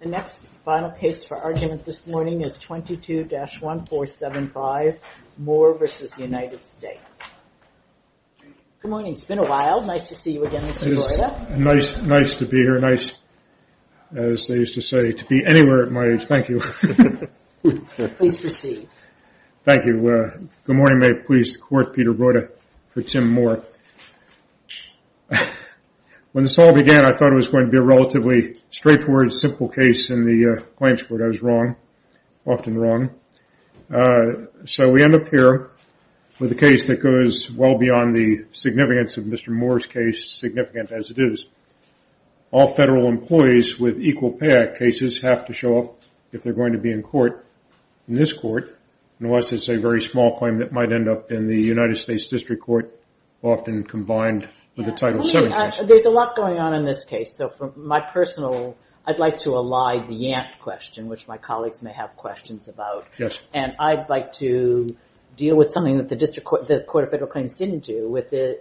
The next final case for argument this morning is 22-1475 Moore v. United States. Good morning. It's been a while. Nice to see you again, Mr. Broda. Nice to be here. Nice, as they used to say, to be anywhere at my age. Thank you. Please proceed. Thank you. Good morning. May it please the Court, Peter Broda for Tim Moore. When this all began, I thought it was going to be a relatively straightforward, simple case in the claims court. I was wrong, often wrong. So we end up here with a case that goes well beyond the significance of Mr. Moore's case, significant as it is. All federal employees with Equal Pay Act cases have to show up if they're going to be in court in this court, unless it's a very small claim that might end up in the United States District Court, often combined with a Title VII case. There's a lot going on in this case. So for my personal, I'd like to ally the Yant question, which my colleagues may have questions about. Yes. And I'd like to deal with something that the Court of Federal Claims didn't do,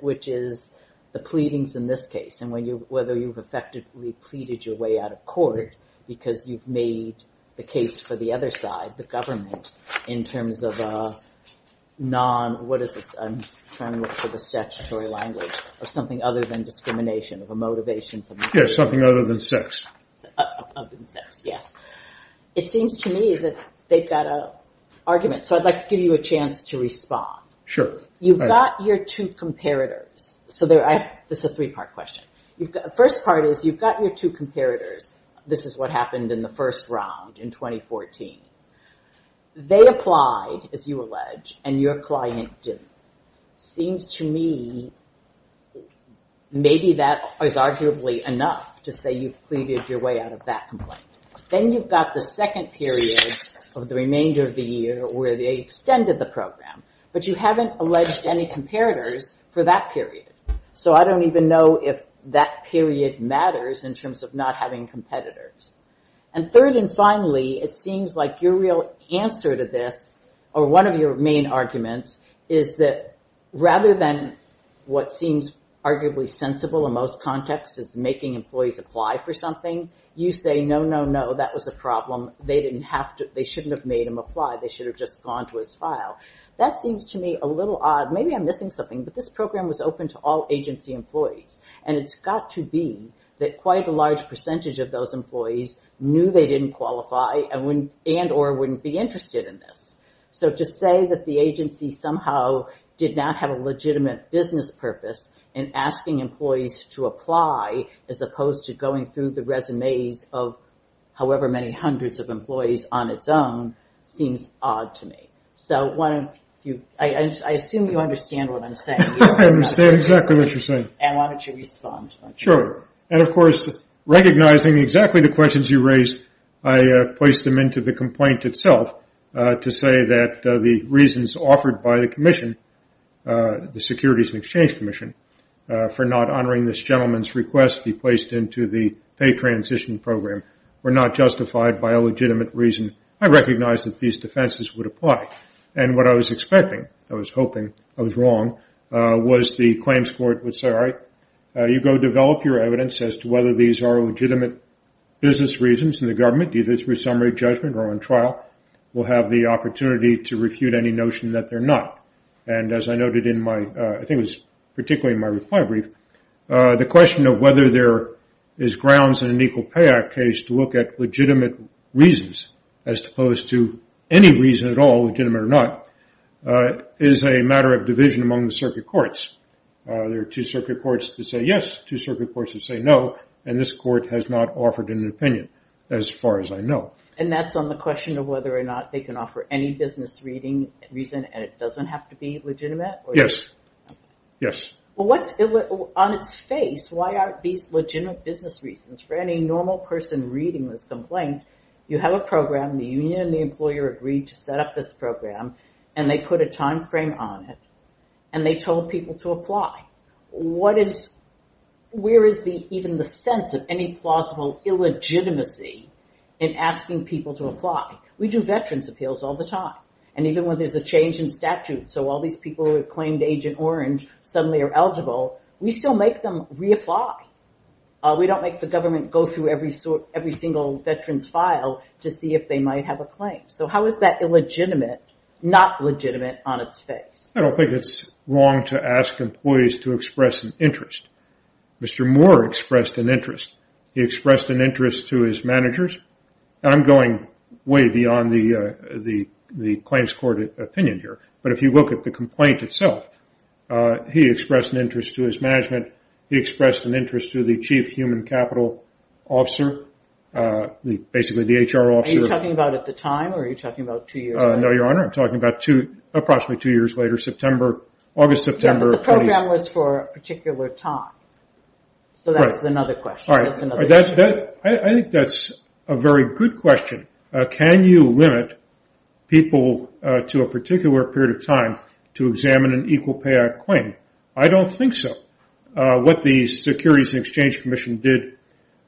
which is the pleadings in this case, and whether you've effectively pleaded your way out of court because you've made the case for the other side, the government, in terms of a non, what is this, I'm trying to look for the statutory language, of something other than discrimination, of a motivation. Yes, something other than sex. Other than sex, yes. It seems to me that they've got an argument. So I'd like to give you a chance to respond. Sure. You've got your two comparators. So this is a three-part question. The first part is you've got your two comparators. This is what happened in the first round in 2014. They applied, as you allege, and your client didn't. Seems to me maybe that is arguably enough to say you've pleaded your way out of that complaint. Then you've got the second period of the remainder of the year where they extended the program, but you haven't alleged any comparators for that period. So I don't even know if that period matters in terms of not having competitors. And third and finally, it seems like your real answer to this, or one of your main arguments, is that rather than what seems arguably sensible in most contexts is making employees apply for something, you say, no, no, no, that was a problem. They didn't have to, they shouldn't have made them apply. They should have just gone to his file. That seems to me a little odd. Maybe I'm missing something, but this program was open to all agency employees, and it's got to be that quite a large percentage of those employees knew they didn't qualify and or wouldn't be interested in this. So to say that the agency somehow did not have a legitimate business purpose in asking employees to apply, as opposed to going through the resumes of however many hundreds of employees on its own, seems odd to me. So why don't you, I assume you understand what I'm saying. I understand exactly what you're saying. And why don't you respond. Sure. And of course, recognizing exactly the questions you raised, I placed them into the complaint itself to say that the reasons offered by the commission, the Securities and Exchange Commission, for not honoring this gentleman's request to be placed into the pay transition program, were not justified by a legitimate reason. I recognize that these defenses would apply. And what I was expecting, I was hoping I was wrong, was the claims court would say, all right, you go develop your evidence as to whether these are legitimate business reasons, and the government, either through summary judgment or on trial, will have the opportunity to refute any notion that they're not. And as I noted in my, I think it was particularly in my reply brief, the question of whether there is grounds in an Equal Pay Act case to look at legitimate reasons, as opposed to any reason at all, legitimate or not, is a matter of division among the circuit courts. There are two circuit courts to say yes, two circuit courts to say no. And this court has not offered an opinion, as far as I know. And that's on the question of whether or not they can offer any business reading reason, and it doesn't have to be legitimate? Yes. Yes. Well, what's, on its face, why aren't these legitimate business reasons? For any normal person reading this complaint, you have a program, the union and the employer agreed to set up this program, and they put a timeframe on it, and they told people to apply. What is, where is the, even the sense of any plausible illegitimacy in asking people to apply? We do veterans appeals all the time, and even when there's a change in statute, so all these people who have claimed Agent Orange suddenly are eligible, we still make them reapply. We don't make the government go through every single veteran's file to see if they might have a claim. So how is that illegitimate, not legitimate, on its face? I don't think it's wrong to ask employees to express an interest. Mr. Moore expressed an interest. He expressed an interest to his managers, and I'm going way beyond the claims court opinion here, but if you look at the complaint itself, he expressed an interest to his management. He expressed an interest to the chief human capital officer, basically the HR officer. Are you talking about at the time, or are you talking about two years ago? No, Your Honor, I'm talking about two, approximately two years later, September, August, September. Yeah, but the program was for a particular time. So that's another question. I think that's a very good question. Can you limit people to a particular period of time to examine an Equal Pay Act claim? I don't think so. What the Securities and Exchange Commission did,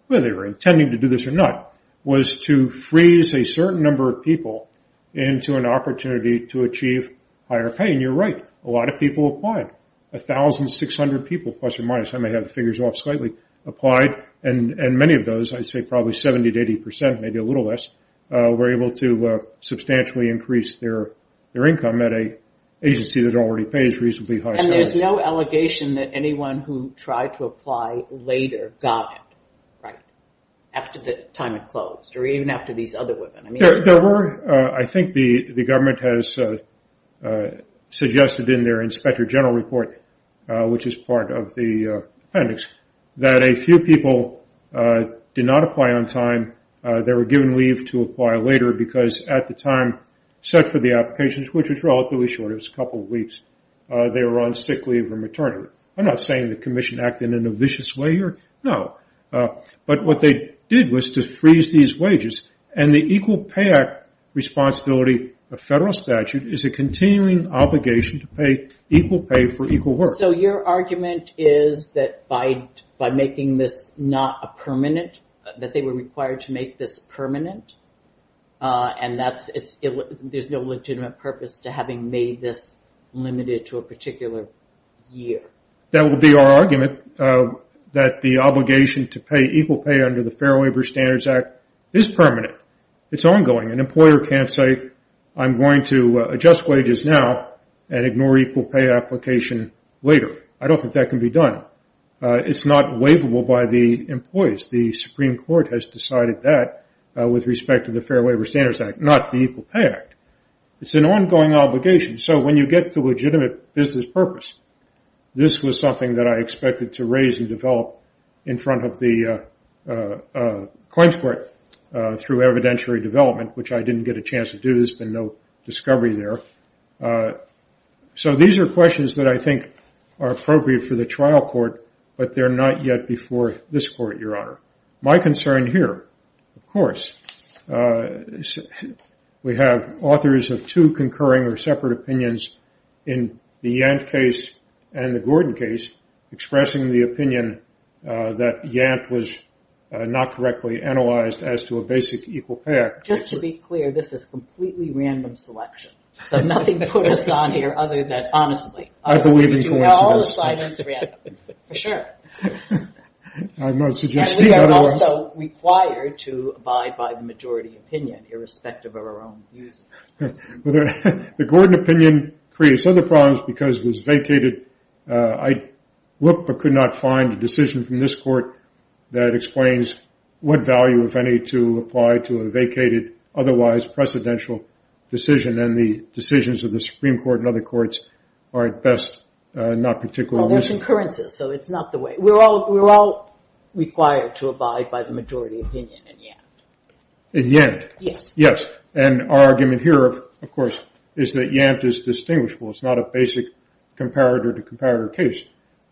whether they were intending to do this or not, was to freeze a certain number of people into an opportunity to achieve higher pay, and you're right. A lot of people applied, 1,600 people, plus or minus. I may have the figures off slightly. Applied, and many of those, I'd say probably 70 to 80%, maybe a little less, were able to substantially increase their income at an agency that already pays reasonably high salaries. And there's no allegation that anyone who tried to apply later got it, right, after the time it closed, or even after these other women. There were. I think the government has suggested in their Inspector General Report, which is part of the appendix, that a few people did not apply on time. They were given leave to apply later because at the time set for the applications, which was relatively short, it was a couple of weeks, they were on sick leave or maternity leave. I'm not saying the Commission acted in a vicious way here. No. But what they did was to freeze these wages, and the Equal Pay Act responsibility of federal statute is a continuing obligation to pay equal pay for equal work. So your argument is that by making this not a permanent, that they were required to make this permanent, and there's no legitimate purpose to having made this limited to a particular year? That would be our argument, that the obligation to pay equal pay under the Fair Labor Standards Act is permanent. It's ongoing. An employer can't say, I'm going to adjust wages now and ignore equal pay application later. I don't think that can be done. It's not waivable by the employees. The Supreme Court has decided that with respect to the Fair Labor Standards Act, not the Equal Pay Act. It's an ongoing obligation. So when you get the legitimate business purpose, this was something that I expected to raise and develop in front of the claims court through evidentiary development, which I didn't get a chance to do. There's been no discovery there. So these are questions that I think are appropriate for the trial court, but they're not yet before this court, Your Honor. My concern here, of course, we have authors of two concurring or separate opinions in the Yant case and the Gordon case, expressing the opinion that Yant was not correctly analyzed as to a basic equal pay act. Just to be clear, this is completely random selection. Nothing put us on here other than honestly. I believe in coincidence. For sure. I'm not suggesting otherwise. We are also required to abide by the majority opinion, irrespective of our own views. The Gordon opinion creates other problems because it was vacated. I looked but could not find a decision from this court that explains what value, if any, to apply to a vacated, otherwise precedential decision. And the decisions of the Supreme Court and other courts are at best not particularly reasonable. Well, there's concurrences, so it's not the way. We're all required to abide by the majority opinion in Yant. In Yant? Yes. And our argument here, of course, is that Yant is distinguishable. It's not a basic comparator-to-comparator case.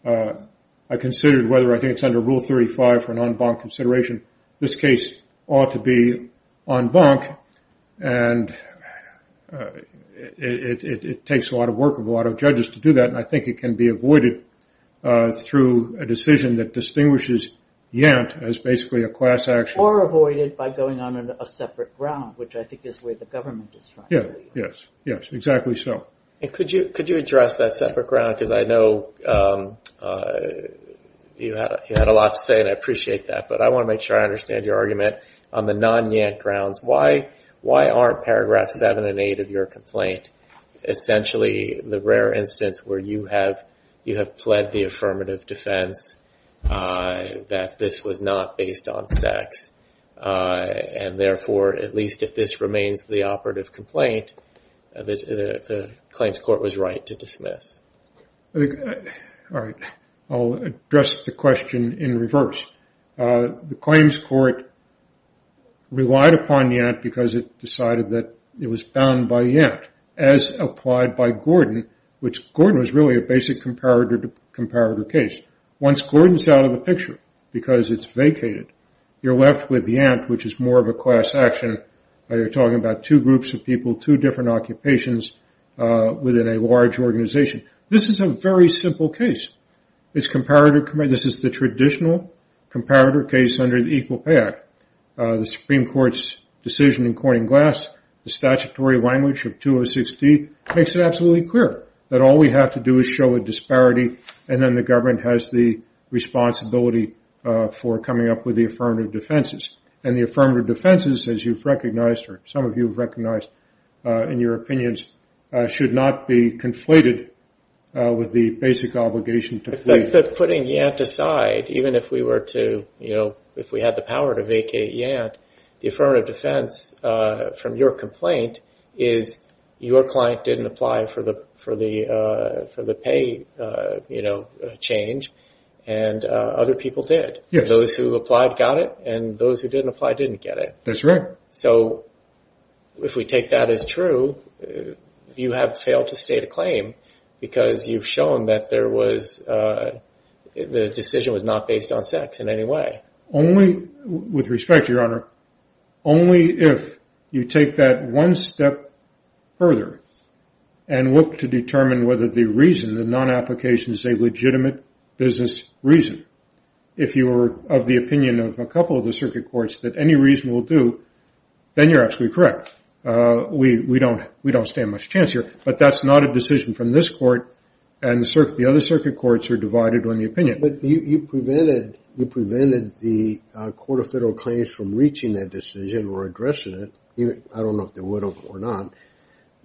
I considered whether I think it's under Rule 35 for an en banc consideration. This case ought to be en banc, and it takes a lot of work and a lot of judges to do that, and I think it can be avoided through a decision that distinguishes Yant as basically a class action. Or avoided by going on a separate ground, which I think is where the government is trying to lead us. Yes, exactly so. And could you address that separate ground? Because I know you had a lot to say, and I appreciate that, but I want to make sure I understand your argument on the non-Yant grounds. Why aren't Paragraph 7 and 8 of your complaint essentially the rare instance where you have pled the affirmative defense that this was not based on sex, and therefore, at least if this remains the operative complaint, the claims court was right to dismiss? All right. I'll address the question in reverse. The claims court relied upon Yant because it decided that it was bound by Yant, as applied by Gordon, which Gordon was really a basic comparator-to-comparator case. Once Gordon's out of the picture because it's vacated, you're left with Yant, which is more of a class action. You're talking about two groups of people, two different occupations within a large organization. This is a very simple case. It's comparator-to-comparator. This is the traditional comparator case under the Equal Pay Act. The Supreme Court's decision in Corning Glass, the statutory language of 206D, makes it absolutely clear that all we have to do is show a disparity, and then the government has the responsibility for coming up with the affirmative defenses. And the affirmative defenses, as you've recognized or some of you have recognized in your opinions, should not be conflated with the basic obligation to flee. But putting Yant aside, even if we had the power to vacate Yant, the affirmative defense from your complaint is your client didn't apply for the pay change, and other people did. Those who applied got it, and those who didn't apply didn't get it. That's right. So if we take that as true, you have failed to state a claim, because you've shown that the decision was not based on sex in any way. With respect, Your Honor, only if you take that one step further and look to determine whether the reason, the non-application, is a legitimate business reason, if you are of the opinion of a couple of the circuit courts that any reason will do, then you're absolutely correct. We don't stand much chance here. But that's not a decision from this court, and the other circuit courts are divided on the opinion. But you prevented the Court of Federal Claims from reaching that decision or addressing it. I don't know if they would or not.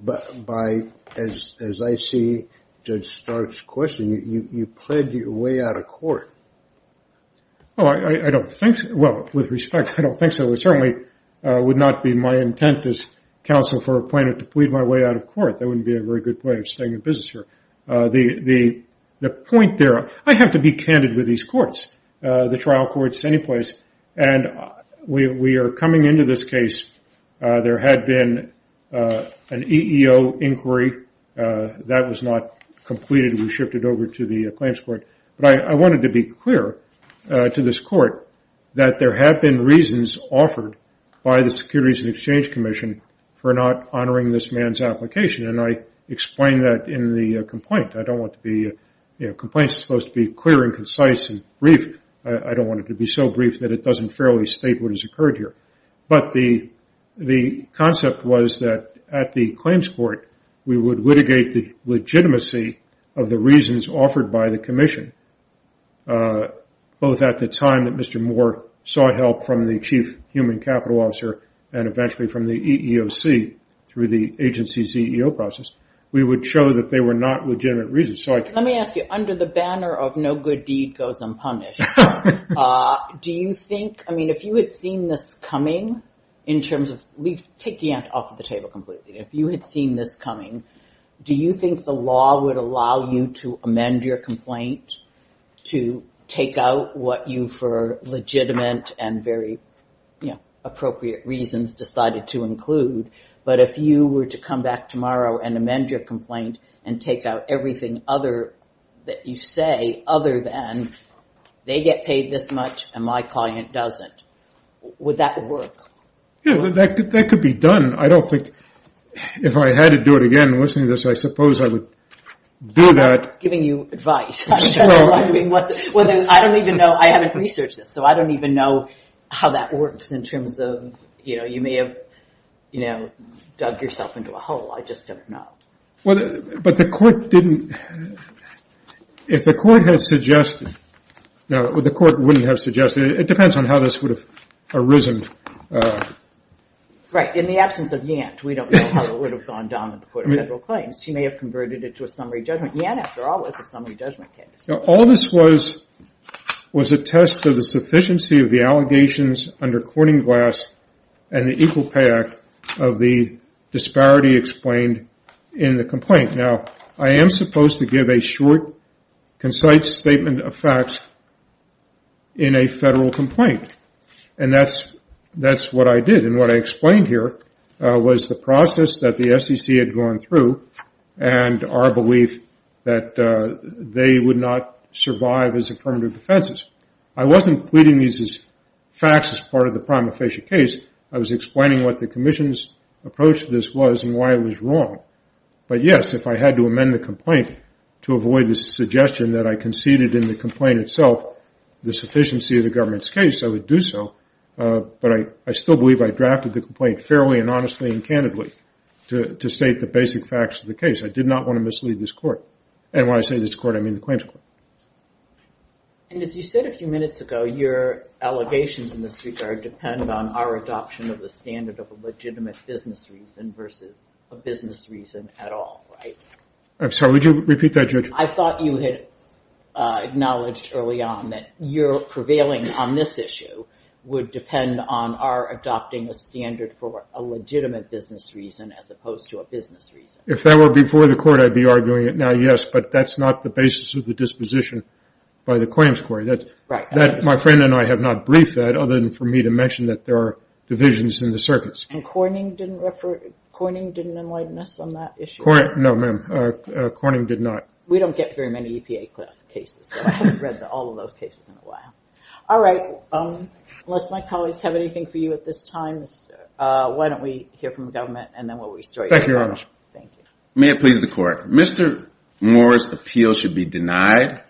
But as I see Judge Stark's question, you plead your way out of court. Well, I don't think so. Well, with respect, I don't think so. It certainly would not be my intent as counsel for a plaintiff to plead my way out of court. That wouldn't be a very good way of staying in business, Your Honor. The point there, I have to be candid with these courts, the trial courts, any place. And we are coming into this case. There had been an EEO inquiry. That was not completed. We shifted over to the claims court. But I wanted to be clear to this court that there have been reasons offered by the Securities and Exchange Commission for not honoring this man's application. And I explained that in the complaint. I don't want the complaint supposed to be clear and concise and brief. I don't want it to be so brief that it doesn't fairly state what has occurred here. But the concept was that at the claims court, we would litigate the legitimacy of the reasons offered by the commission, both at the time that Mr. Moore saw help from the chief human capital officer and eventually from the EEOC through the agency's EEO process. We would show that they were not legitimate reasons. Let me ask you, under the banner of no good deed goes unpunished, do you think, I mean, if you had seen this coming, in terms of, take the ant off the table completely, if you had seen this coming, do you think the law would allow you to amend your complaint to take out what you for legitimate and very appropriate reasons decided to include? But if you were to come back tomorrow and amend your complaint and take out everything other that you say, other than, they get paid this much and my client doesn't, would that work? Yeah, that could be done. I don't think, if I had to do it again, listening to this, I suppose I would do that. I'm not giving you advice. I don't even know, I haven't researched this, so I don't even know how that works in terms of, you may have dug yourself into a hole, I just don't know. But the court didn't, if the court had suggested, the court wouldn't have suggested, it depends on how this would have arisen. Right, in the absence of Yant, we don't know how it would have gone down with the Court of Federal Claims. She may have converted it to a summary judgment. Yant, after all, was a summary judgment case. All this was, was a test of the sufficiency of the allegations under Corning Glass and the Equal Pay Act of the disparity explained in the complaint. Now, I am supposed to give a short, concise statement of facts in a federal complaint. And that's what I did. And what I explained here was the process that the SEC had gone through and our belief that they would not survive as affirmative defenses. I wasn't pleading these as facts as part of the prima facie case. I was explaining what the commission's approach to this was and why it was wrong. But, yes, if I had to amend the complaint to avoid the suggestion that I conceded in the complaint itself the sufficiency of the government's case, I would do so. But I still believe I drafted the complaint fairly and honestly and candidly to state the basic facts of the case. I did not want to mislead this court. And when I say this court, I mean the Claims Court. And as you said a few minutes ago, your allegations in this regard depend on our adoption of the standard of a legitimate business reason versus a business reason at all, right? I'm sorry, would you repeat that, Judge? I thought you had acknowledged early on that your prevailing on this issue would depend on our adopting a standard for a legitimate business reason as opposed to a business reason. If that were before the court, I'd be arguing it now, yes, but that's not the basis of the disposition by the Claims Court. My friend and I have not briefed that other than for me to mention that there are divisions in the circuits. And Corning didn't enlighten us on that issue? No, ma'am, Corning did not. We don't get very many EPA cases. I haven't read all of those cases in a while. All right, unless my colleagues have anything for you at this time, why don't we hear from the government and then we'll restart. Thank you, Your Honor. May it please the Court. Mr. Moore's appeal should be denied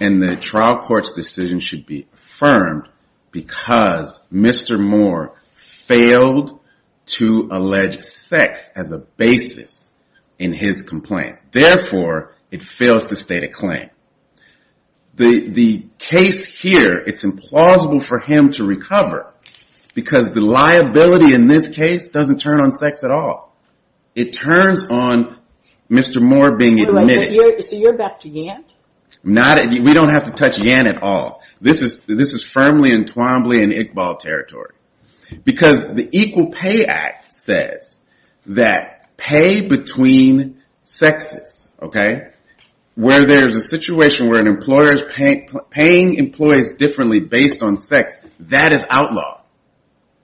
and the trial court's decision should be affirmed because Mr. Moore failed to allege sex as a basis in his complaint. Therefore, it fails to state a claim. The case here, it's implausible for him to recover because the liability in this case doesn't turn on sex at all. It turns on Mr. Moore being admitted. So you're back to Yant? We don't have to touch Yant at all. This is firmly and twombly in Iqbal territory because the Equal Pay Act says that pay between sexes, okay, where there's a situation where an employer is paying employees differently based on sex, that is outlawed,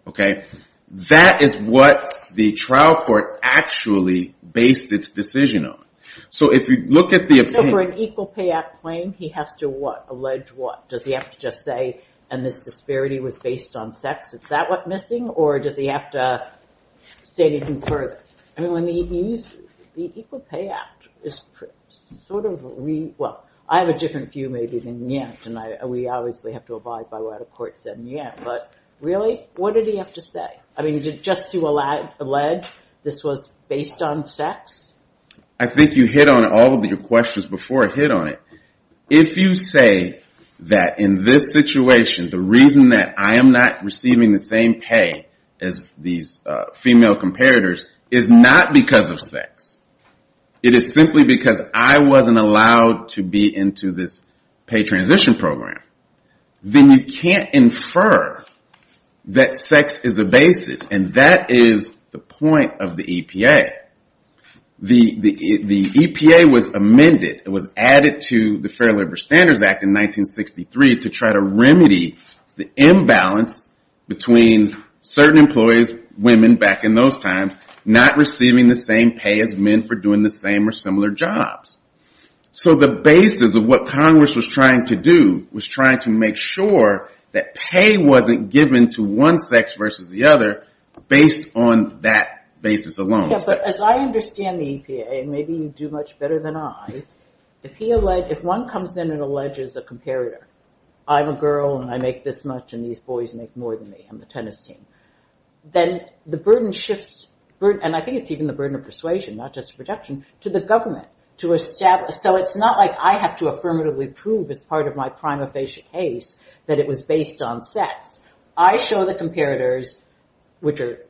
okay? That is what the trial court actually based its decision on. So if you look at the opinion... So for an Equal Pay Act claim, he has to what? Allege what? Does he have to just say, and this disparity was based on sex, is that what's missing? Or does he have to state it even further? The Equal Pay Act is sort of... Well, I have a different view maybe than Yant, and we obviously have to abide by what a court said in Yant. But really, what did he have to say? I mean, just to allege this was based on sex? I think you hit on all of your questions before I hit on it. If you say that in this situation, the reason that I am not receiving the same pay as these female comparators is not because of sex. It is simply because I wasn't allowed to be into this pay transition program. Then you can't infer that sex is a basis, and that is the point of the EPA. The EPA was amended. It was added to the Fair Labor Standards Act in 1963 to try to remedy the imbalance between certain employees, women back in those times, not receiving the same pay as men for doing the same or similar jobs. So the basis of what Congress was trying to do was trying to make sure that pay wasn't given to one sex versus the other based on that basis alone. As I understand the EPA, and maybe you do much better than I, if one comes in and alleges a comparator, I'm a girl and I make this much and these boys make more than me on the tennis team, then the burden shifts, and I think it's even the burden of persuasion, not just rejection, to the government to establish. So it's not like I have to affirmatively prove as part of my prima facie case that it was based on sex. I show the comparators, which are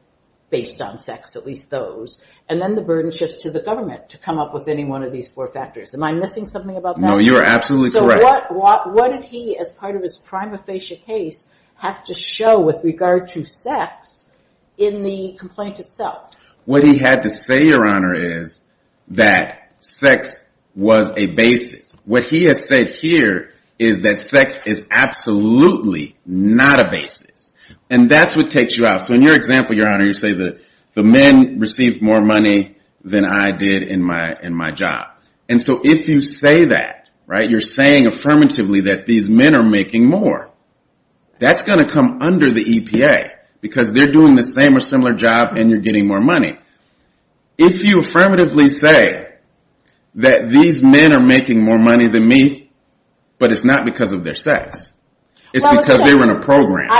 based on sex, at least those, and then the burden shifts to the government to come up with any one of these four factors. Am I missing something about that? No, you are absolutely correct. So what did he, as part of his prima facie case, have to show with regard to sex in the complaint itself? What he had to say, Your Honor, is that sex was a basis. What he has said here is that sex is absolutely not a basis. So in your example, Your Honor, you say that the men received more money than I did in my job. And so if you say that, right, you're saying affirmatively that these men are making more, that's going to come under the EPA because they're doing the same or similar job and you're getting more money. If you affirmatively say that these men are making more money than me, but it's not because of their sex, it's because they were in a program...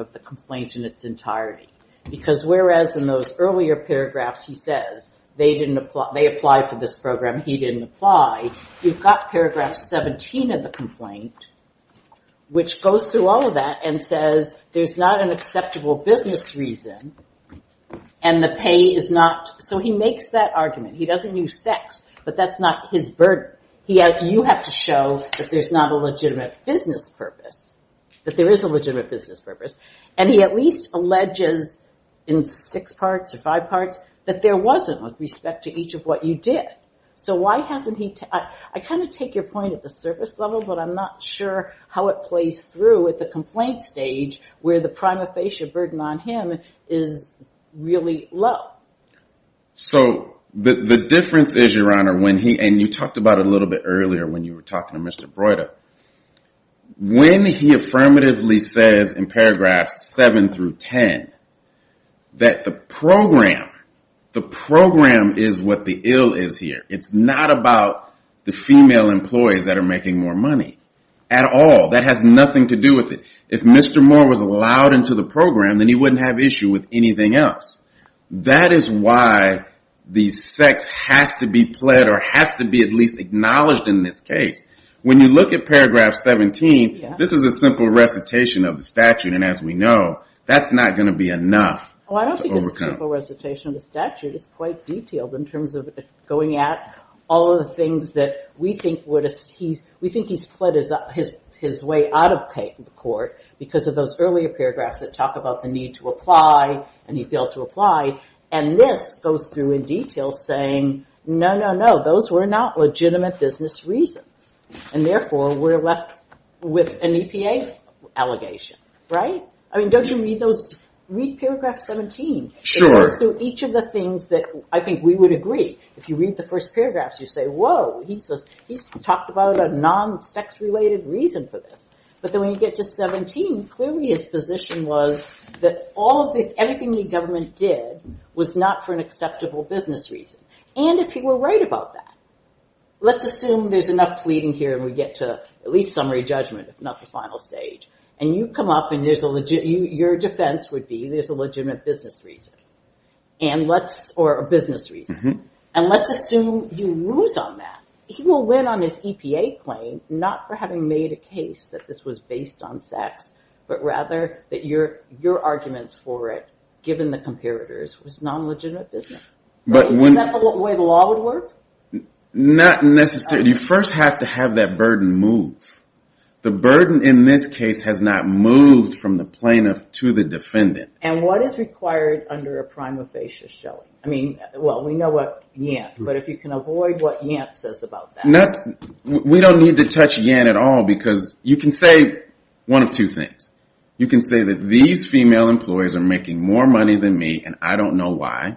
of the complaint in its entirety. Because whereas in those earlier paragraphs he says they applied for this program, he didn't apply, you've got paragraph 17 of the complaint, which goes through all of that and says there's not an acceptable business reason and the pay is not... So he makes that argument. He doesn't use sex, but that's not his burden. You have to show that there's not a legitimate business purpose, that there is a legitimate business purpose. And he at least alleges in six parts or five parts that there wasn't with respect to each of what you did. So why hasn't he... I kind of take your point at the surface level, but I'm not sure how it plays through at the complaint stage where the prima facie burden on him is really low. So the difference is, Your Honor, when he... And you talked about it a little bit earlier when you were talking to Mr. Broida. When he affirmatively says in paragraphs 7 through 10 that the program, the program is what the ill is here. It's not about the female employees that are making more money at all. That has nothing to do with it. If Mr. Moore was allowed into the program, then he wouldn't have issue with anything else. That is why the sex has to be pled or has to be at least acknowledged in this case. When you look at paragraph 17, this is a simple recitation of the statute. And as we know, that's not going to be enough to overcome. Well, I don't think it's a simple recitation of the statute. It's quite detailed in terms of going at all of the things that we think he's fled his way out of the court because of those earlier paragraphs that talk about the need to apply and he failed to apply. And this goes through in detail saying, no, no, no, those were not legitimate business reasons. And therefore, we're left with an EPA allegation, right? I mean, don't you read those, read paragraph 17. It goes through each of the things that I think we would agree. If you read the first paragraphs, you say, whoa, he's talked about a non-sex-related reason for this. But then when you get to 17, clearly his position was that all of the, everything the government did was not for an acceptable business reason. And if he were right about that, let's assume there's enough pleading here and we get to at least summary judgment, if not the final stage. And you come up and your defense would be there's a legitimate business reason or a business reason. And let's assume you lose on that. He will win on his EPA claim, not for having made a case that this was based on sex, but rather that your arguments for it, given the comparators, was non-legitimate business. Is that the way the law would work? Not necessarily. You first have to have that burden move. The burden in this case has not moved from the plaintiff to the defendant. And what is required under a prima facie showing? I mean, well, we know what Yant, but if you can avoid what Yant says about that. We don't need to touch Yant at all because you can say one of two things. You can say that these female employees are making more money than me and I don't know why.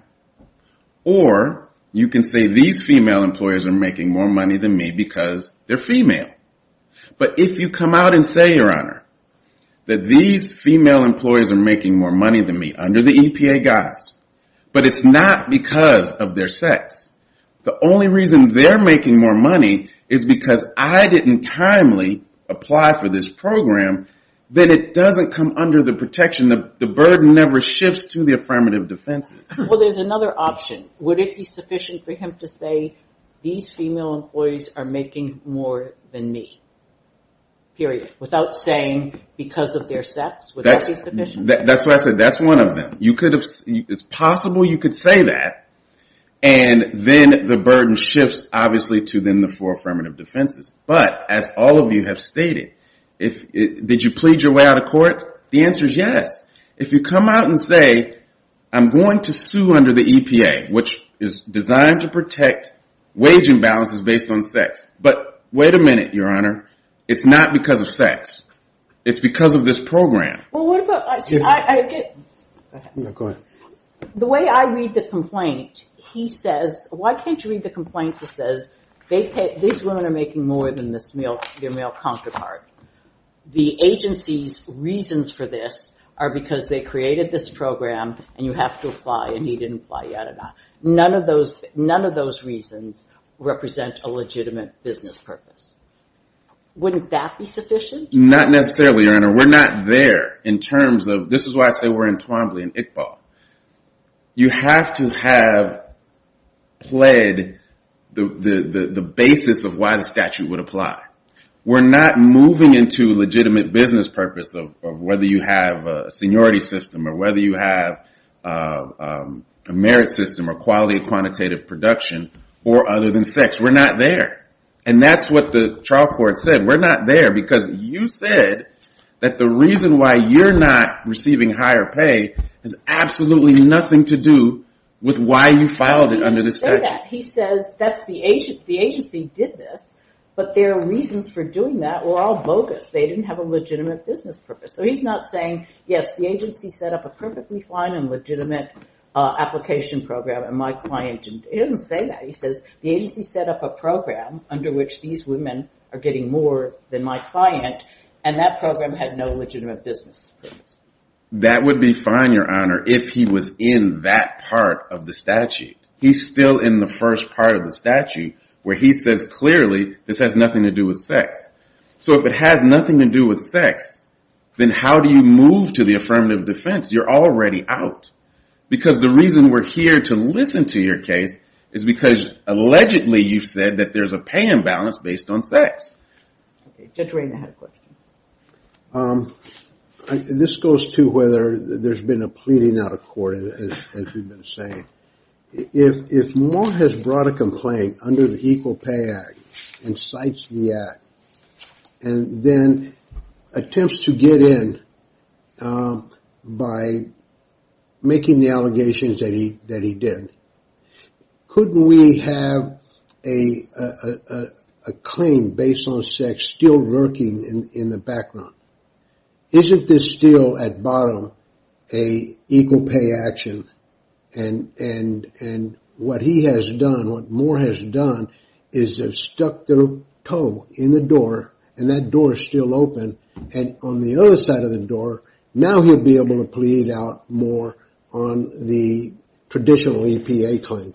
Or you can say these female employers are making more money than me because they're female. But if you come out and say, Your Honor, that these female employees are making more money than me under the EPA guise, but it's not because of their sex. The only reason they're making more money is because I didn't timely apply for this program, then it doesn't come under the protection. The burden never shifts to the affirmative defenses. Well, there's another option. Would it be sufficient for him to say, These female employees are making more than me, period, without saying because of their sex? Would that be sufficient? That's why I said that's one of them. It's possible you could say that and then the burden shifts, obviously, to then the four affirmative defenses. But as all of you have stated, did you plead your way out of court? The answer is yes. If you come out and say, I'm going to sue under the EPA, which is designed to protect wage imbalances based on sex. But wait a minute, Your Honor. It's not because of sex. It's because of this program. Well, what about... Go ahead. The way I read the complaint, he says, Why can't you read the complaint that says, These women are making more than their male counterpart. The agency's reasons for this are because they created this program and you have to apply and he didn't apply. None of those reasons represent a legitimate business purpose. Wouldn't that be sufficient? Not necessarily, Your Honor. We're not there in terms of... This is why I say we're in Twombly and Iqbal. You have to have played the basis of why the statute would apply. We're not moving into legitimate business purpose of whether you have a seniority system or whether you have a merit system or quality quantitative production or other than sex. We're not there. And that's what the trial court said. We're not there because you said that the reason why you're not receiving higher pay has absolutely nothing to do with why you filed it under the statute. He didn't say that. He says the agency did this but their reasons for doing that were all bogus. They didn't have a legitimate business purpose. So he's not saying, yes, the agency set up a perfectly fine and legitimate application program and my client didn't. He doesn't say that. He says the agency set up a program under which these women are getting more than my client and that program had no legitimate business purpose. That would be fine, Your Honor, if he was in that part of the statute. He's still in the first part of the statute where he says clearly this has nothing to do with sex. So if it has nothing to do with sex, then how do you move to the affirmative defense? You're already out because the reason we're here to listen to your case is because allegedly you've said that there's a pay imbalance based on sex. Judge Rayna had a question. This goes to whether there's been a pleading out of court, as we've been saying. If Moore has brought a complaint under the Equal Pay Act and cites the act and then attempts to get in by making the allegations that he did, couldn't we have a claim based on sex still lurking in the background? Isn't this still, at bottom, a Equal Pay action? And what he has done, what Moore has done, is they've stuck their toe in the door and that door is still open. And on the other side of the door, now he'll be able to plead out more on the traditional EPA claim.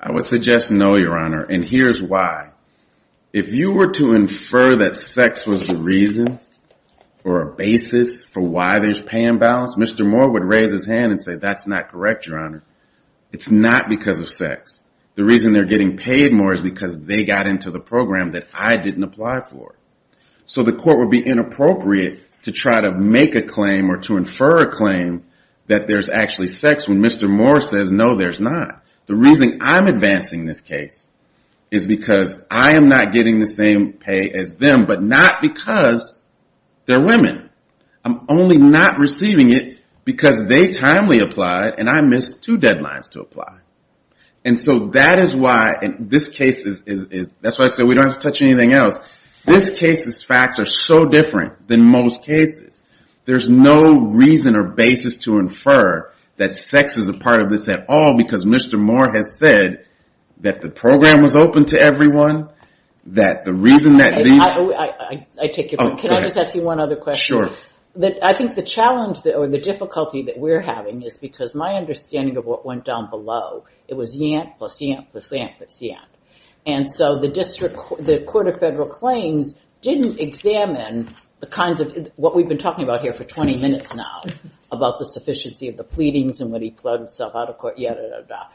I would suggest no, Your Honor, and here's why. If you were to infer that sex was the reason or a basis for why there's pay imbalance, Mr. Moore would raise his hand and say, that's not correct, Your Honor. It's not because of sex. The reason they're getting paid more is because they got into the program that I didn't apply for. So the court would be inappropriate to try to make a claim or to infer a claim that there's actually sex when Mr. Moore says, no, there's not. The reason I'm advancing this case is because I am not getting the same pay as them, but not because they're women. I'm only not receiving it because they timely applied and I missed two deadlines to apply. And so that is why, and this case is, that's why I said we don't have to touch anything else. This case's facts are so different than most cases. There's no reason or basis to infer that sex is a part of this at all because Mr. Moore has said that the program was open to everyone, that the reason that these... I take your point. Oh, go ahead. Can I just ask you one other question? Sure. I think the challenge or the difficulty that we're having is because my understanding of what went down below, it was Yant plus Yant plus Yant plus Yant. And so the District, the Court of Federal Claims didn't examine the kinds of, what we've been talking about here for 20 minutes now, about the sufficiency of the pleadings and when he plowed himself out of court, yada, yada, yada.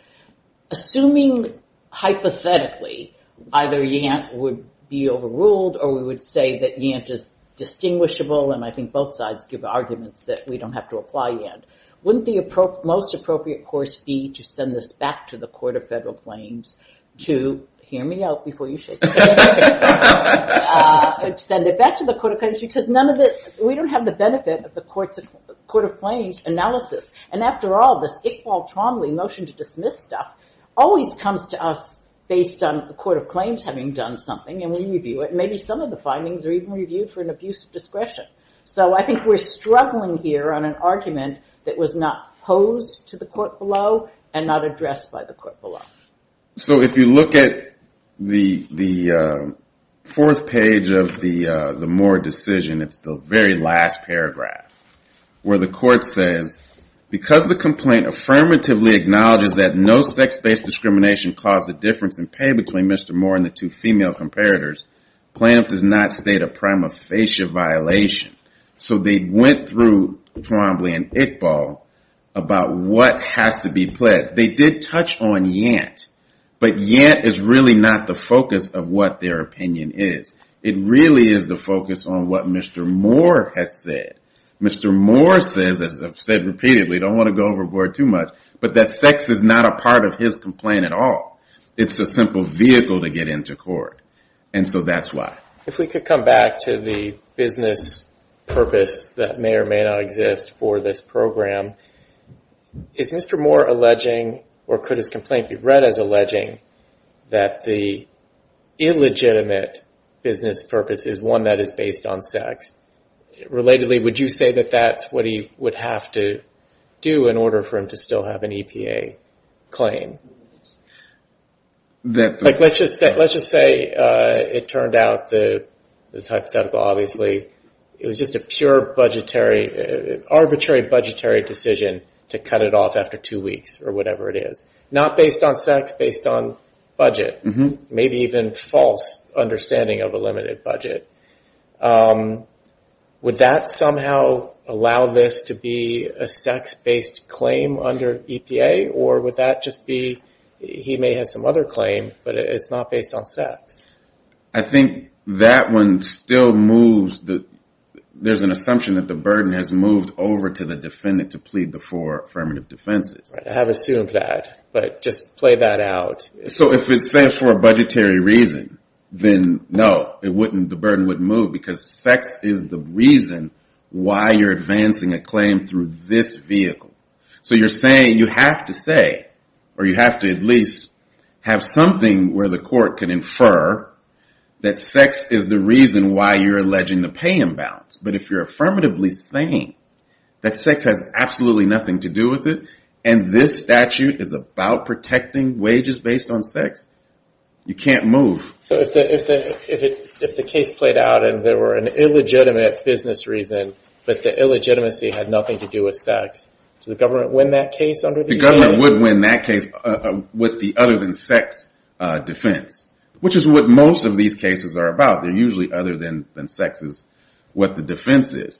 Assuming, hypothetically, either Yant would be overruled or we would say that Yant is distinguishable and I think both sides give arguments that we don't have to apply Yant, wouldn't the most appropriate course be to send this back to the Court of Federal Claims to, hear me out before you shake your head, send it back to the Court of Claims because we don't have the benefit of the Court of Claims analysis. And after all, this Iqbal Tromley motion to dismiss stuff always comes to us based on the Court of Claims having done something and we review it and maybe some of the findings are even reviewed for an abuse of discretion. So I think we're struggling here on an argument that was not posed to the court below and not addressed by the court below. So if you look at the fourth page of the Moore decision, it's the very last paragraph, where the court says, because the complaint affirmatively acknowledges that no sex-based discrimination caused a difference in pay between Mr. Moore and the two female comparators, plaintiff does not state a prima facie violation. So they went through Tromley and Iqbal about what has to be pledged. They did touch on Yant, but Yant is really not the focus of what their opinion is. It really is the focus on what Mr. Moore has said Mr. Moore says, as I've said repeatedly, don't want to go overboard too much, but that sex is not a part of his complaint at all. It's a simple vehicle to get into court. And so that's why. If we could come back to the business purpose that may or may not exist for this program, is Mr. Moore alleging, or could his complaint be read as alleging, that the illegitimate business purpose is one that is based on sex? Relatedly, would you say that that's what he would have to do in order for him to still have an EPA claim? Let's just say it turned out, it's hypothetical obviously, it was just a pure budgetary, arbitrary budgetary decision to cut it off after two weeks or whatever it is. Not based on sex, based on budget. Maybe even false understanding of a limited budget. Would that somehow allow this to be a sex-based claim under EPA, or would that just be, he may have some other claim, but it's not based on sex? I think that one still moves, there's an assumption that the burden has moved over to the defendant to plead the four affirmative defenses. I have assumed that, but just play that out. So if it's there for a budgetary reason, then no, the burden wouldn't move, because sex is the reason why you're advancing a claim through this vehicle. So you're saying you have to say, or you have to at least have something where the court can infer that sex is the reason why you're alleging the pay imbalance. But if you're affirmatively saying that sex has absolutely nothing to do with it, and this statute is about protecting wages based on sex, you can't move. So if the case played out and there were an illegitimate business reason, but the illegitimacy had nothing to do with sex, does the government win that case under the EPA? The government would win that case with the other than sex defense, which is what most of these cases are about. They're usually other than sex is what the defense is.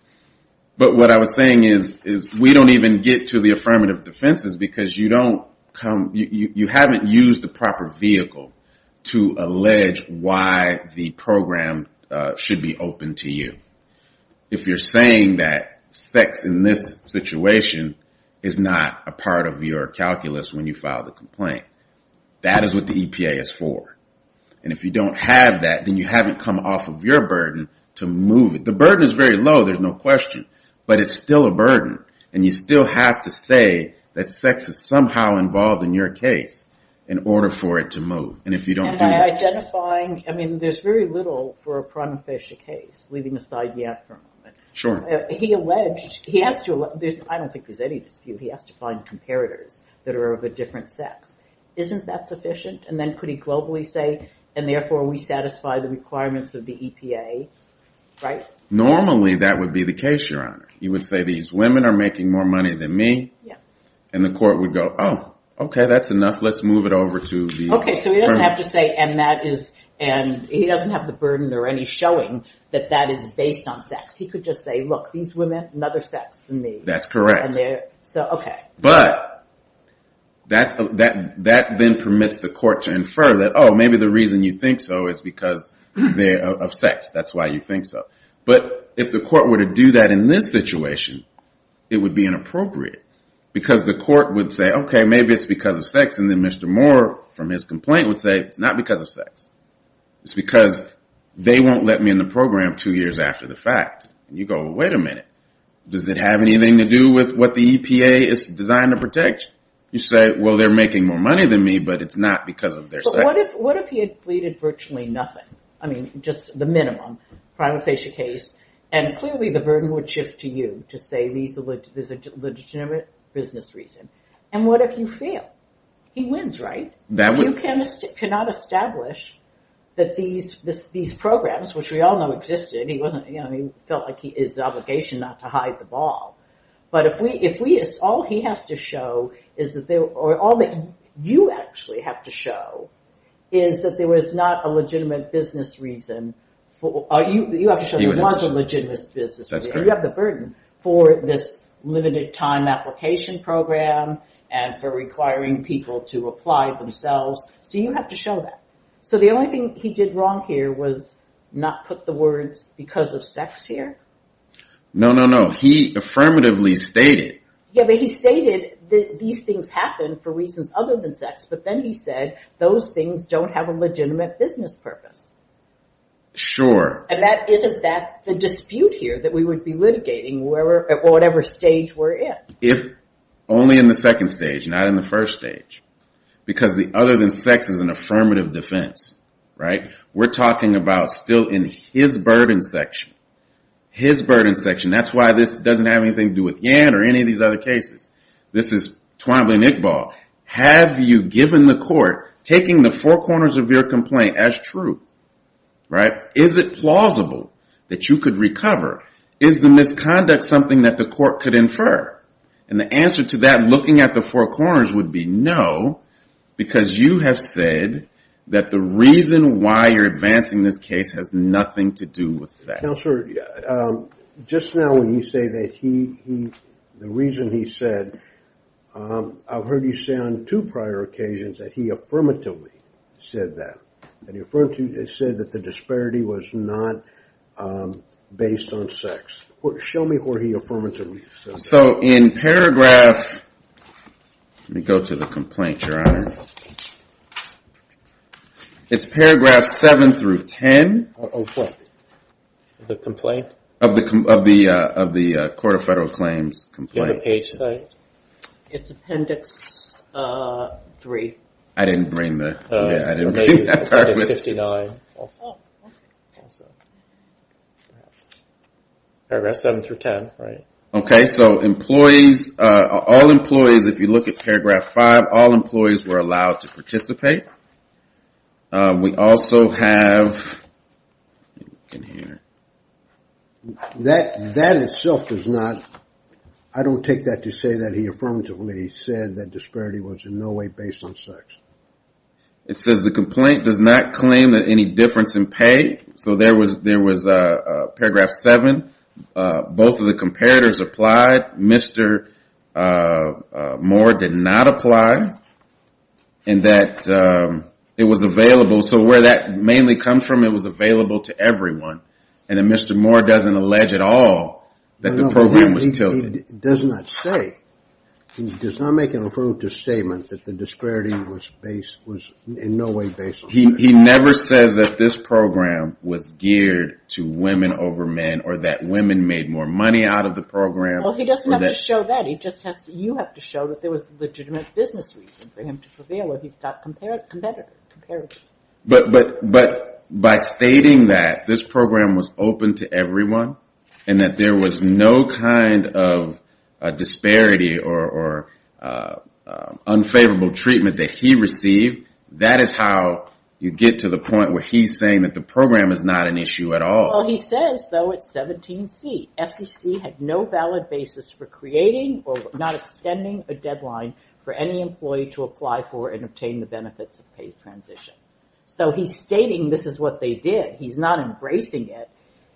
But what I was saying is, we don't even get to the affirmative defenses, because you haven't used the proper vehicle to allege why the program should be open to you. If you're saying that sex in this situation is not a part of your calculus when you file the complaint, that is what the EPA is for. And if you don't have that, then you haven't come off of your burden to move it. The burden is very low, there's no question, but it's still a burden, and you still have to say that sex is somehow involved in your case in order for it to move. And if you don't do that... Am I identifying... I mean, there's very little for a prima facie case, leaving aside the aftermath. Sure. He alleged... I don't think there's any dispute, he has to find comparators that are of a different sex. Isn't that sufficient? And then could he globally say, and therefore we satisfy the requirements of the EPA, right? Normally, that would be the case, Your Honor. He would say, these women are making more money than me, and the court would go, oh, okay, that's enough, let's move it over to the... Okay, so he doesn't have to say, and he doesn't have the burden or any showing that that is based on sex. He could just say, look, these women have another sex than me. That's correct. Okay. But that then permits the court to infer that, oh, maybe the reason you think so is because of sex, that's why you think so. But if the court were to do that in this situation, it would be inappropriate, because the court would say, okay, maybe it's because of sex, and then Mr. Moore, from his complaint, would say it's not because of sex. It's because they won't let me in the program two years after the fact. And you go, well, wait a minute. Does it have anything to do with what the EPA is designed to protect? You say, well, they're making more money than me, but it's not because of their sex. But what if he had pleaded virtually nothing? I mean, just the minimum. Prima facie case. And clearly the burden would shift to you to say there's a legitimate business reason. And what if you fail? He wins, right? You cannot establish that these programs, which we all know existed, he felt like it was his obligation not to hide the ball. But all he has to show, or all that you actually have to show, is that there was not a legitimate business reason You have to show there was a legitimate business reason. That's correct. You have the burden for this limited time application program and for requiring people to apply themselves. So you have to show that. So the only thing he did wrong here was not put the words because of sex here? No, no, no. He affirmatively stated... Yeah, but he stated these things happen for reasons other than sex. But then he said those things don't have a legitimate business purpose. Sure. And isn't that the dispute here that we would be litigating at whatever stage we're in? If only in the second stage, not in the first stage. Because the other than sex is an affirmative defense. Right? We're talking about still in his burden section. His burden section. That's why this doesn't have anything to do with Yann or any of these other cases. This is Twombly and Iqbal. Have you given the court taking the four corners of your complaint as true? Right? Is it plausible that you could recover? Is the misconduct something that the court could infer? And the answer to that looking at the four corners would be no because you have said that the reason why you're advancing this case has nothing to do with sex. Counselor, just now when you say that he... the reason he said... I've heard you say on two prior occasions that he affirmatively said that. He said that the disparity was not based on sex. Show me where he affirmatively said that. So in paragraph... Let me go to the complaint, Your Honor. It's paragraph 7 through 10. Of what? The complaint? Of the Court of Federal Claims complaint. Do you have a page set? It's appendix 3. I didn't bring the... I didn't bring that part with me. It's appendix 59 also. Oh, okay. Also. Perhaps. Paragraph 7 through 10, right? Okay, so employees... All employees, if you look at paragraph 5, all employees were allowed to participate. We also have... You can hear. That itself does not... say that he affirmatively said that disparity was in no way based on sex. It says the complaint does not claim that any difference in pay. So there was paragraph 7. Both of the comparators applied. Mr. Moore did not apply. And that it was available. So where that mainly comes from, it was available to everyone. And Mr. Moore doesn't allege at all that the program was tilted. He does not say. He does not make an affirmative statement that the disparity was in no way based on sex. He never says that this program was geared to women over men or that women made more money out of the program. Well, he doesn't have to show that. He just has to... You have to show that there was legitimate business reason for him to prevail or he thought competitive. But by stating that, this program was open to everyone and that there was no kind of disparity or unfavorable treatment that he received, that is how you get to the point where he's saying that the program is not an issue at all. Well, he says, though, it's 17C. SEC had no valid basis for creating or not extending a deadline for any employee to apply for and obtain the benefits of paid transition. So he's stating this is what they did. He's not embracing it.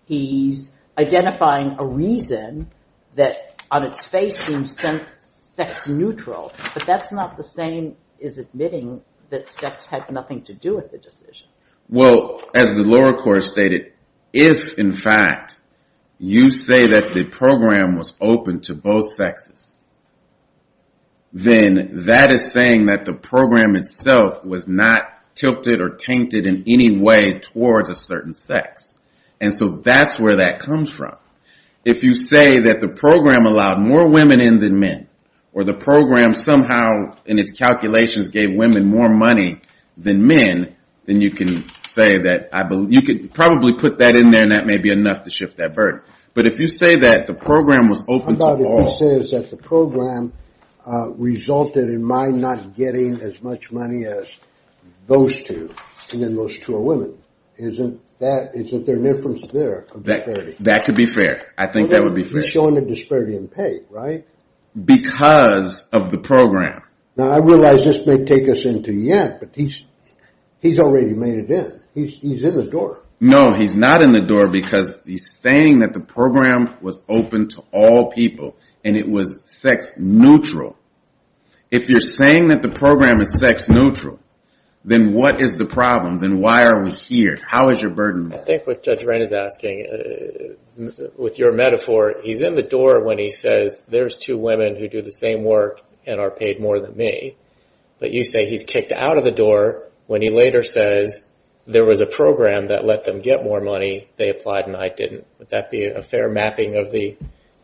He's identifying a reason that on its face seems sex-neutral, but that's not the same as admitting that sex had nothing to do with the decision. Well, as the lower court stated, if, in fact, you say that the program was open to both sexes, then that is saying that the program itself was not tilted or tainted in any way towards a certain sex. And so that's where that comes from. If you say that the program allowed more women in than men or the program somehow in its calculations gave women more money than men, then you can say that I believe... You could probably put that in there and that may be enough to shift that verdict. But if you say that the program was open to all... How about if he says that the program resulted in my not getting as much money as those two and then those two are women? Isn't there an inference there? That could be fair. I think that would be fair. He's showing a disparity in pay, right? Because of the program. Now, I realize this may take us into Yen, but he's already made it in. He's in the door. No, he's not in the door because he's saying that the program was open to all people and it was sex-neutral. If you're saying that the program is sex-neutral, then what is the problem? Then why are we here? How is your burden? I think what Judge Wren is asking, with your metaphor, he's in the door when he says, there's two women who do the same work and are paid more than me. But you say he's kicked out of the door when he later says, there was a program that let them get more money. They applied and I didn't. Would that be a fair mapping of the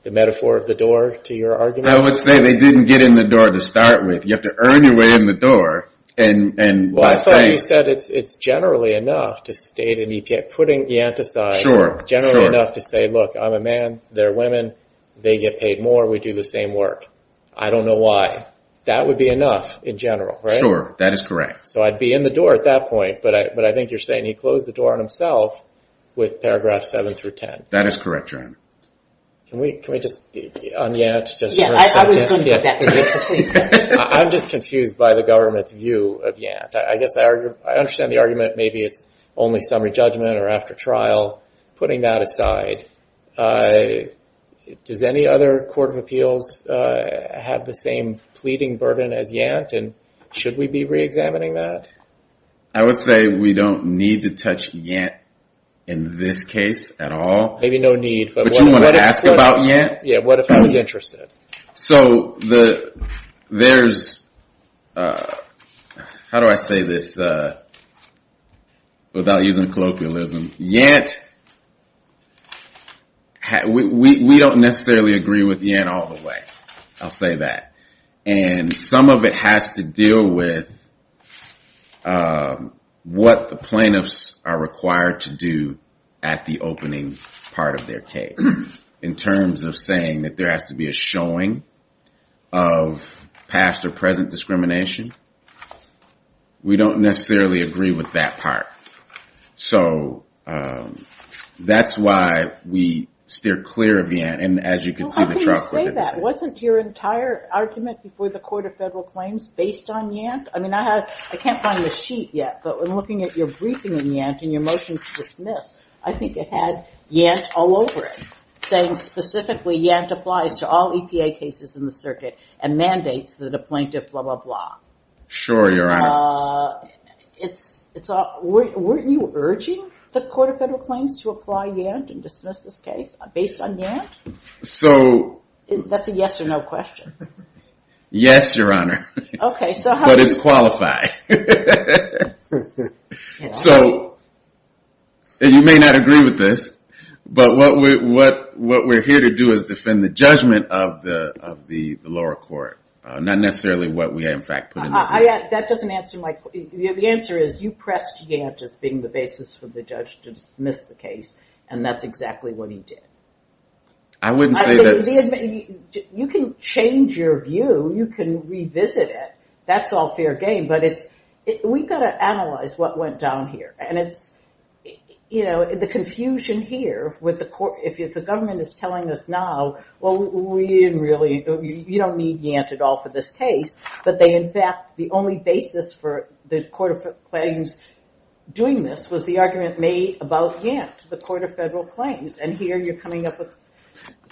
metaphor of the door to your argument? I would say they didn't get in the door to start with. You have to earn your way in the door. I thought you said it's generally enough to state putting Yant aside, generally enough to say, look, I'm a man. They're women. They get paid more. We do the same work. I don't know why. That would be enough in general, right? Sure, that is correct. So I'd be in the door at that point, but I think you're saying he closed the door on himself with paragraphs 7 through 10. That is correct, Jeremy. Can we just, on Yant, I'm just confused by the government's view of Yant. I guess I understand the argument. Maybe it's only summary judgment or after trial. Putting that aside, does any other court of appeals have the same pleading burden as Yant and should we be reexamining that? I would say we don't need to touch Yant in this case at all. Maybe no need. But you want to ask about Yant? Yeah, what if I was interested? So there's, how do I say this without using colloquialism? Yant, we don't necessarily agree with Yant all the way. I'll say that. And some of it has to deal with what the plaintiffs are required to do at the opening part of their case in terms of saying that there has to be a showing of past or present discrimination. We don't necessarily agree with that part. So that's why we steer clear of Yant. And as you can see, the trust... How can you say that? Wasn't your entire argument before the Court of Federal Claims based on Yant? I mean, I can't find the sheet yet, but in looking at your briefing in Yant and your motion to dismiss, I think it had Yant all over it saying specifically Yant applies to all EPA cases in the circuit and mandates that a plaintiff, blah, blah, blah. Sure, Your Honor. It's... Weren't you urging the Court of Federal Claims to apply Yant and dismiss this case based on Yant? So... That's a yes or no question. Yes, Your Honor. Okay, so how... But it's qualified. So you may not agree with this, but what we're here to do is defend the judgment of the lower court, not necessarily what we, in fact, put in the case. That doesn't answer my... The answer is you pressed Yant as being the basis for the judge to dismiss the case, and that's exactly what he did. I wouldn't say that... You can change your view. You can revisit it. That's all fair game, but we've got to analyze what went down here, and it's... You know, the confusion here with the court... If the government is telling us now, well, we didn't really... You don't need Yant at all for this case, but they, in fact, the only basis for the Court of Claims doing this was the argument made about Yant, the Court of Federal Claims, and here you're coming up with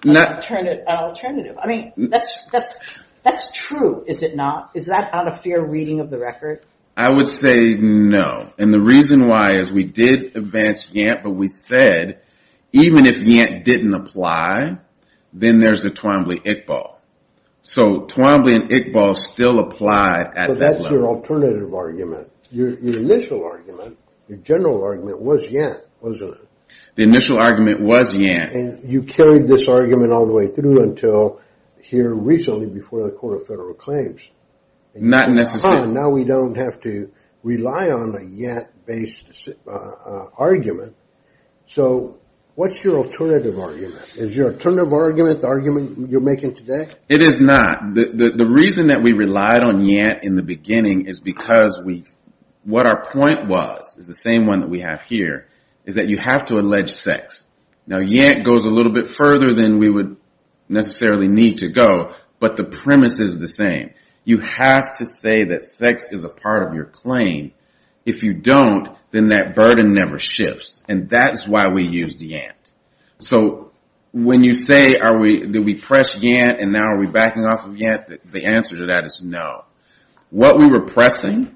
an alternative. I mean, that's true, is it not? Is that not a fair reading of the record? I would say no, and the reason why is we did advance Yant, but we said even if Yant didn't apply, then there's the Twombly-Iqbal. So Twombly and Iqbal still applied at that point. But that's your alternative argument. Your initial argument, your general argument, was Yant, wasn't it? The initial argument was Yant. And you carried this argument all the way through until here recently before the Court of Federal Claims. Not necessarily. Now we don't have to rely on a Yant-based argument. So what's your alternative argument? Is your alternative argument the argument you're making today? It is not. The reason that we relied on Yant in the beginning is because what our point was, the same one that we have here, is that you have to allege sex. Now, Yant goes a little bit further than we would necessarily need to go, but the premise is the same. You have to say that sex is a part of your claim. If you don't, then that burden never shifts. And that's why we used Yant. So when you say, did we press Yant and now are we backing off of Yant, the answer to that is no. What we were pressing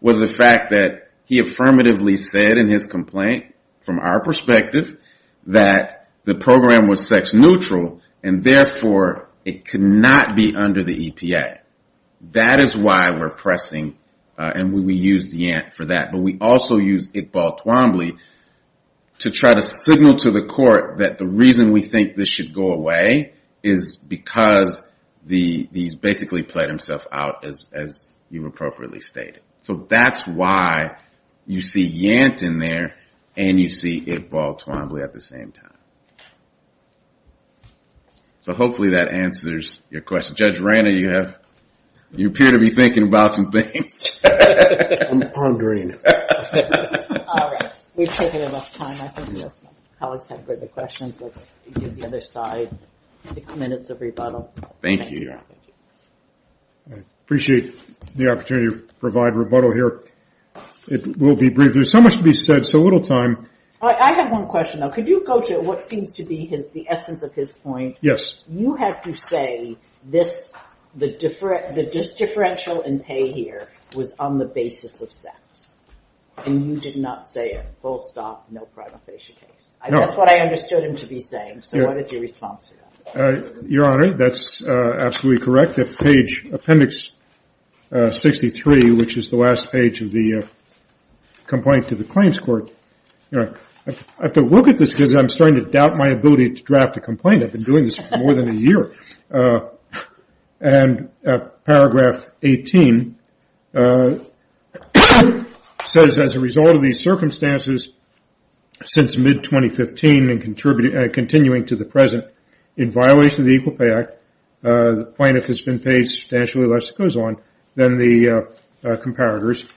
was the fact that he affirmatively said in his complaint, from our perspective, that the program was sex-neutral and therefore it could not be under the EPA. That is why we're pressing and we used Yant for that. But we also used Iqbal Twombly to try to signal to the court that the reason we think this should go away is because he's basically played himself out as you appropriately stated. So that's why you see Yant in there and you see Iqbal Twombly at the same time. So hopefully that answers your question. Judge Rana, you appear to be thinking about some things. I'm pondering. All right. We've taken enough time. I think the colleagues have heard the questions. Let's do the other side. Six minutes of rebuttal. Thank you. I appreciate the opportunity to provide rebuttal here. It will be brief. There's so much to be said, so little time. I have one question, though. Could you go to what seems to be the essence of his point? Yes. You have to say the differential in pay here was on the basis of sex. And you did not say a full stop, no prima facie case. No. That's what I understood him to be saying. So what is your response to that? Your Honor, that's absolutely correct. If page appendix 63, which is the last page of the complaint to the claims court, I have to look at this because I'm starting to doubt my ability to draft a complaint. I've been doing this for more than a year. And paragraph 18 says, as a result of these circumstances since mid-2015 and continuing to the present, in violation of the Equal Pay Act, plaintiff has been paid substantially less, it goes on, than the comparators,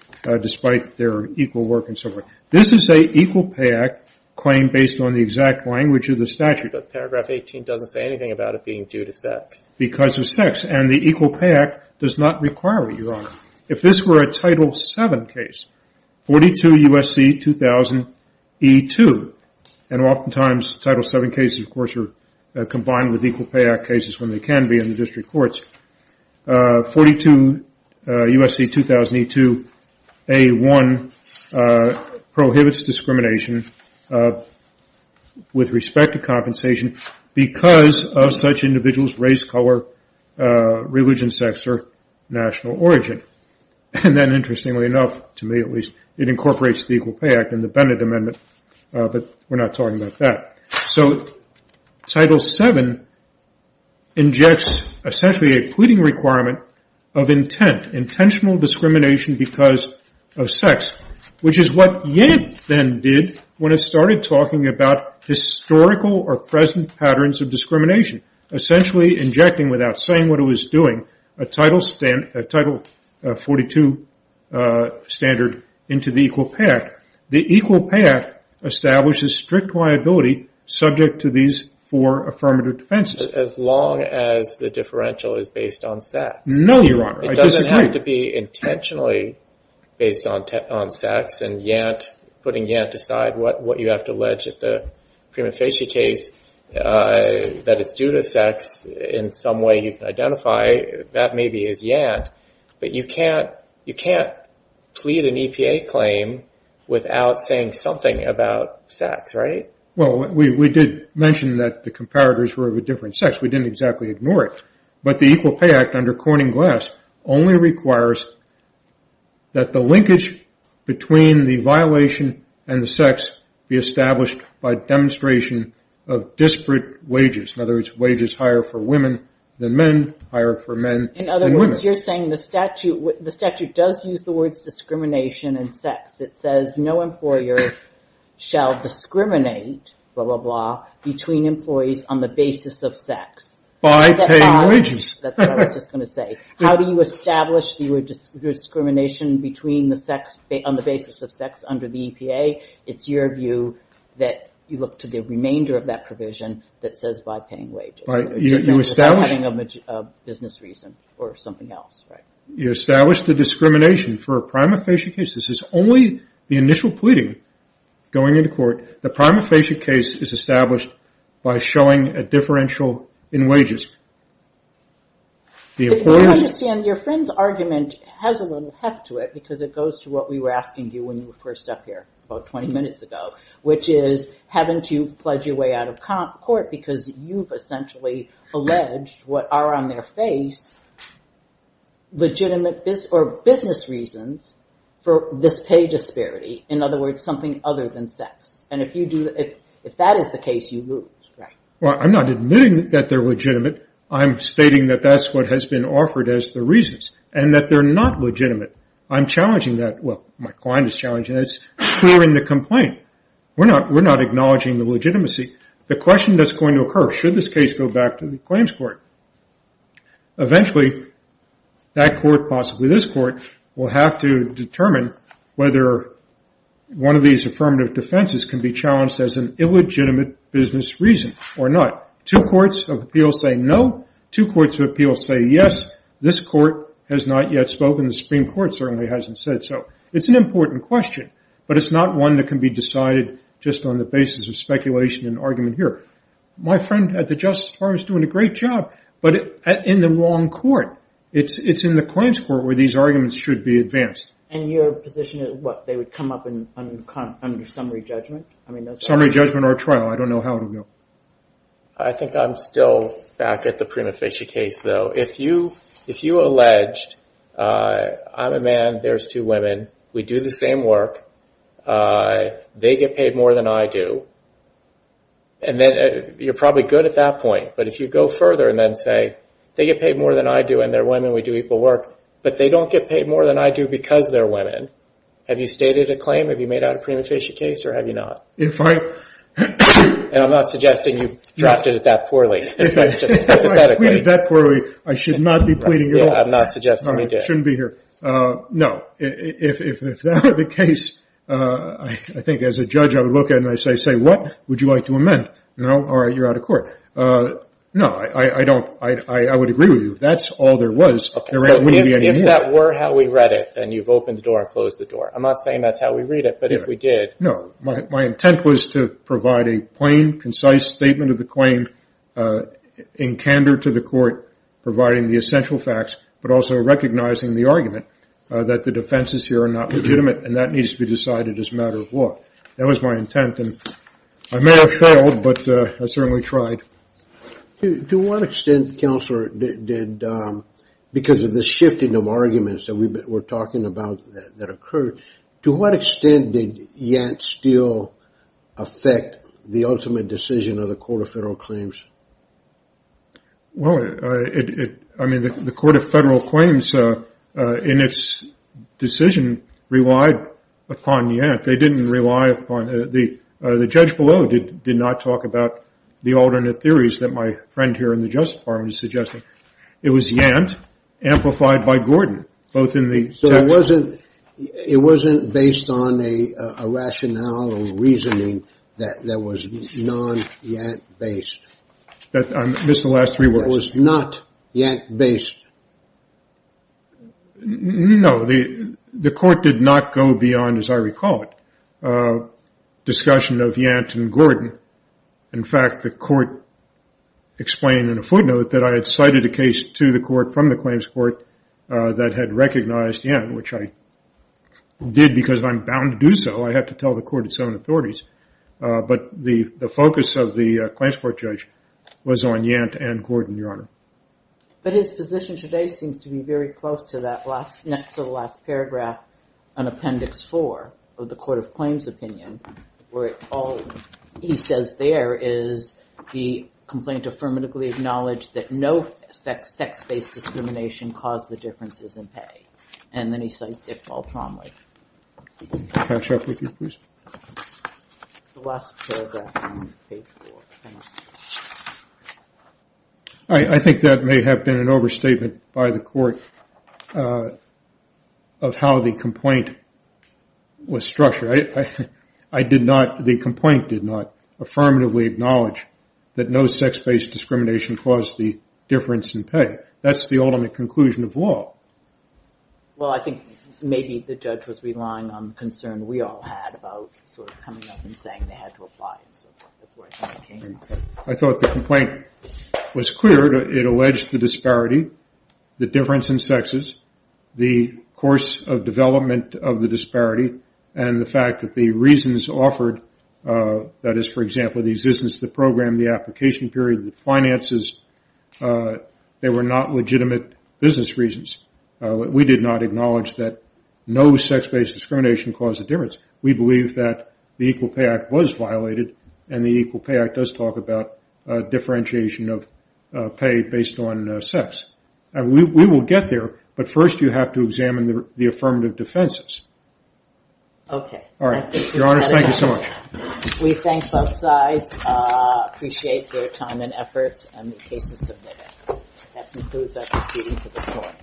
despite their equal work and so forth. This is a Equal Pay Act claim based on the exact language of the statute. But paragraph 18 doesn't say anything about it being due to sex. Because of sex. And the Equal Pay Act does not require it, Your Honor. If this were a Title VII case, 42 U.S.C. 2000 E2, and oftentimes Title VII cases, of course, are combined with Equal Pay Act cases when they can be in the district courts. 42 U.S.C. 2000 E2, A1, prohibits discrimination with respect to compensation because of such individuals' race, color, religion, sex, or national origin. And then, interestingly enough, to me at least, it incorporates the Equal Pay Act and the Bennett Amendment, but we're not talking about that. So Title VII injects essentially a pleading requirement of intent. Intentional discrimination because of sex. Which is what Yank then did when it started talking about historical or present patterns of discrimination. Essentially injecting, without saying what it was doing, a Title 42 standard into the Equal Pay Act. The Equal Pay Act establishes strict liability subject to these four affirmative defenses. As long as the differential is based on sex. No, Your Honor. I disagree. It doesn't have to be intentionally based on sex and putting Yant aside. What you have to allege at the Prima Facie case that it's due to sex in some way you can identify, that maybe is Yant. But you can't plead an EPA claim without saying something about sex, right? Well, we did mention that the comparators were of a different sex. We didn't exactly ignore it. But the Equal Pay Act under Corning Glass only requires that the linkage between the violation and the sex be established by demonstration of disparate wages. In other words, wages higher for women than men, higher for men than women. In other words, you're saying the statute does use the words discrimination and sex. It says no employer shall discriminate, blah, blah, blah, between employees on the basis of sex. By paying wages. That's what I was just going to say. How do you establish the discrimination between the sex on the basis of sex under the EPA? It's your view that you look to the remainder of that provision that says by paying wages. Having a business reason or something else, right? You establish the discrimination for a prima facie case. This is only the initial pleading going into court. The prima facie case is established by showing a differential in wages. But you might understand your friend's argument has a little heft to it because it goes to what we were asking you when you were first up here about 20 minutes ago, which is haven't you pledged your way out of court because you've essentially alleged what are on their face legitimate business reasons for this pay disparity. In other words, something other than sex. If that is the case, you lose. I'm not admitting that they're legitimate. I'm stating that that's what has been offered as the reasons and that they're not legitimate. I'm challenging that. Well, my client is challenging that. It's poor in the complaint. We're not acknowledging the legitimacy. The question that's going to occur, should this case go back to the claims court? Eventually, that court, possibly this court, will have to determine whether one of these affirmative defenses can be challenged as an illegitimate business reason or not. Two courts of appeal say no. Two courts of appeal say yes. This court has not yet spoken. The Supreme Court certainly hasn't said so. It's an important question, but it's not one that can be decided just on the basis of speculation and argument here. My friend at the Justice Department is doing a great job, but in the wrong court. It's in the claims court where these arguments should be advanced. And your position is what, they would come up under summary judgment? Summary judgment or trial. I don't know how it will go. I think I'm still back at the prima facie case, though. If you alleged, I'm a man, there's two women, we do the same work, they get paid more than I do, and then you're probably good at that point, but if you go further and then say, they get paid more than I do and they're women, we do equal work, but they don't get paid more than I do because they're women, have you stated a claim? Have you made out a prima facie case or have you not? If I... And I'm not suggesting you've drafted it that poorly. If I've pleaded that poorly, I should not be pleading at all. Yeah, I'm not suggesting you did. I shouldn't be here. No, if that were the case, I think as a judge I would look at it and say, what would you like to amend? No, all right, you're out of court. No, I don't, I would agree with you. If that's all there was... Okay, so if that were how we read it, then you've opened the door and closed the door. I'm not saying that's how we read it, but if we did... No, my intent was to provide a plain, concise statement of the claim in candor to the court, providing the essential facts, but also recognizing the argument that the defenses here are not legitimate and that needs to be decided as a matter of law. That was my intent, and I may have failed, but I certainly tried. To what extent, Counselor, did... Because of the shifting of arguments that we're talking about that occurred, to what extent did Yant still affect the ultimate decision of the Court of Federal Claims? Well, I mean, the Court of Federal Claims, in its decision, relied upon Yant. They didn't rely upon... The judge below did not talk about the alternate theories that my friend here in the Justice Department is suggesting. It was Yant amplified by Gordon, both in the... So it wasn't based on a rationale or reasoning that was non-Yant-based. I missed the last three words. It was not Yant-based. No, the court did not go beyond, as I recall it, discussion of Yant and Gordon. In fact, the court explained in a footnote that I had cited a case to the court from the claims court that had recognized Yant, which I did because I'm bound to do so. I have to tell the court its own authorities. But the focus of the claims court judge was on Yant and Gordon, Your Honor. But his position today seems to be very close to that, next to the last paragraph on Appendix 4 of the Court of Claims opinion, where all he says there is the complaint affirmatively acknowledged that no sex-based discrimination caused the differences in pay. And then he cites Iqbal Promlich. Can I catch up with you, please? The last paragraph on page 4. I think that may have been an overstatement by the court of how the complaint was structured. I did not, the complaint did not affirmatively acknowledge that no sex-based discrimination caused the difference in pay. That's the ultimate conclusion of law. Well, I think maybe the judge was relying on the concern we all had about sort of coming up and saying they had to apply and so forth. That's where I think it came from. I thought the complaint was clear. It alleged the disparity, the difference in sexes, the course of development of the disparity, and the fact that the reasons offered, that is, for example, the existence of the program, the application period, the finances, they were not legitimate business reasons. We did not acknowledge that no sex-based discrimination caused the difference. We believe that the Equal Pay Act was violated, and the Equal Pay Act does talk about differentiation of pay based on sex. We will get there, but first you have to examine the affirmative defenses. Okay. All right. Your Honors, thank you so much. We thank both sides, appreciate their time and efforts, and the cases submitted. That concludes our proceeding for this morning.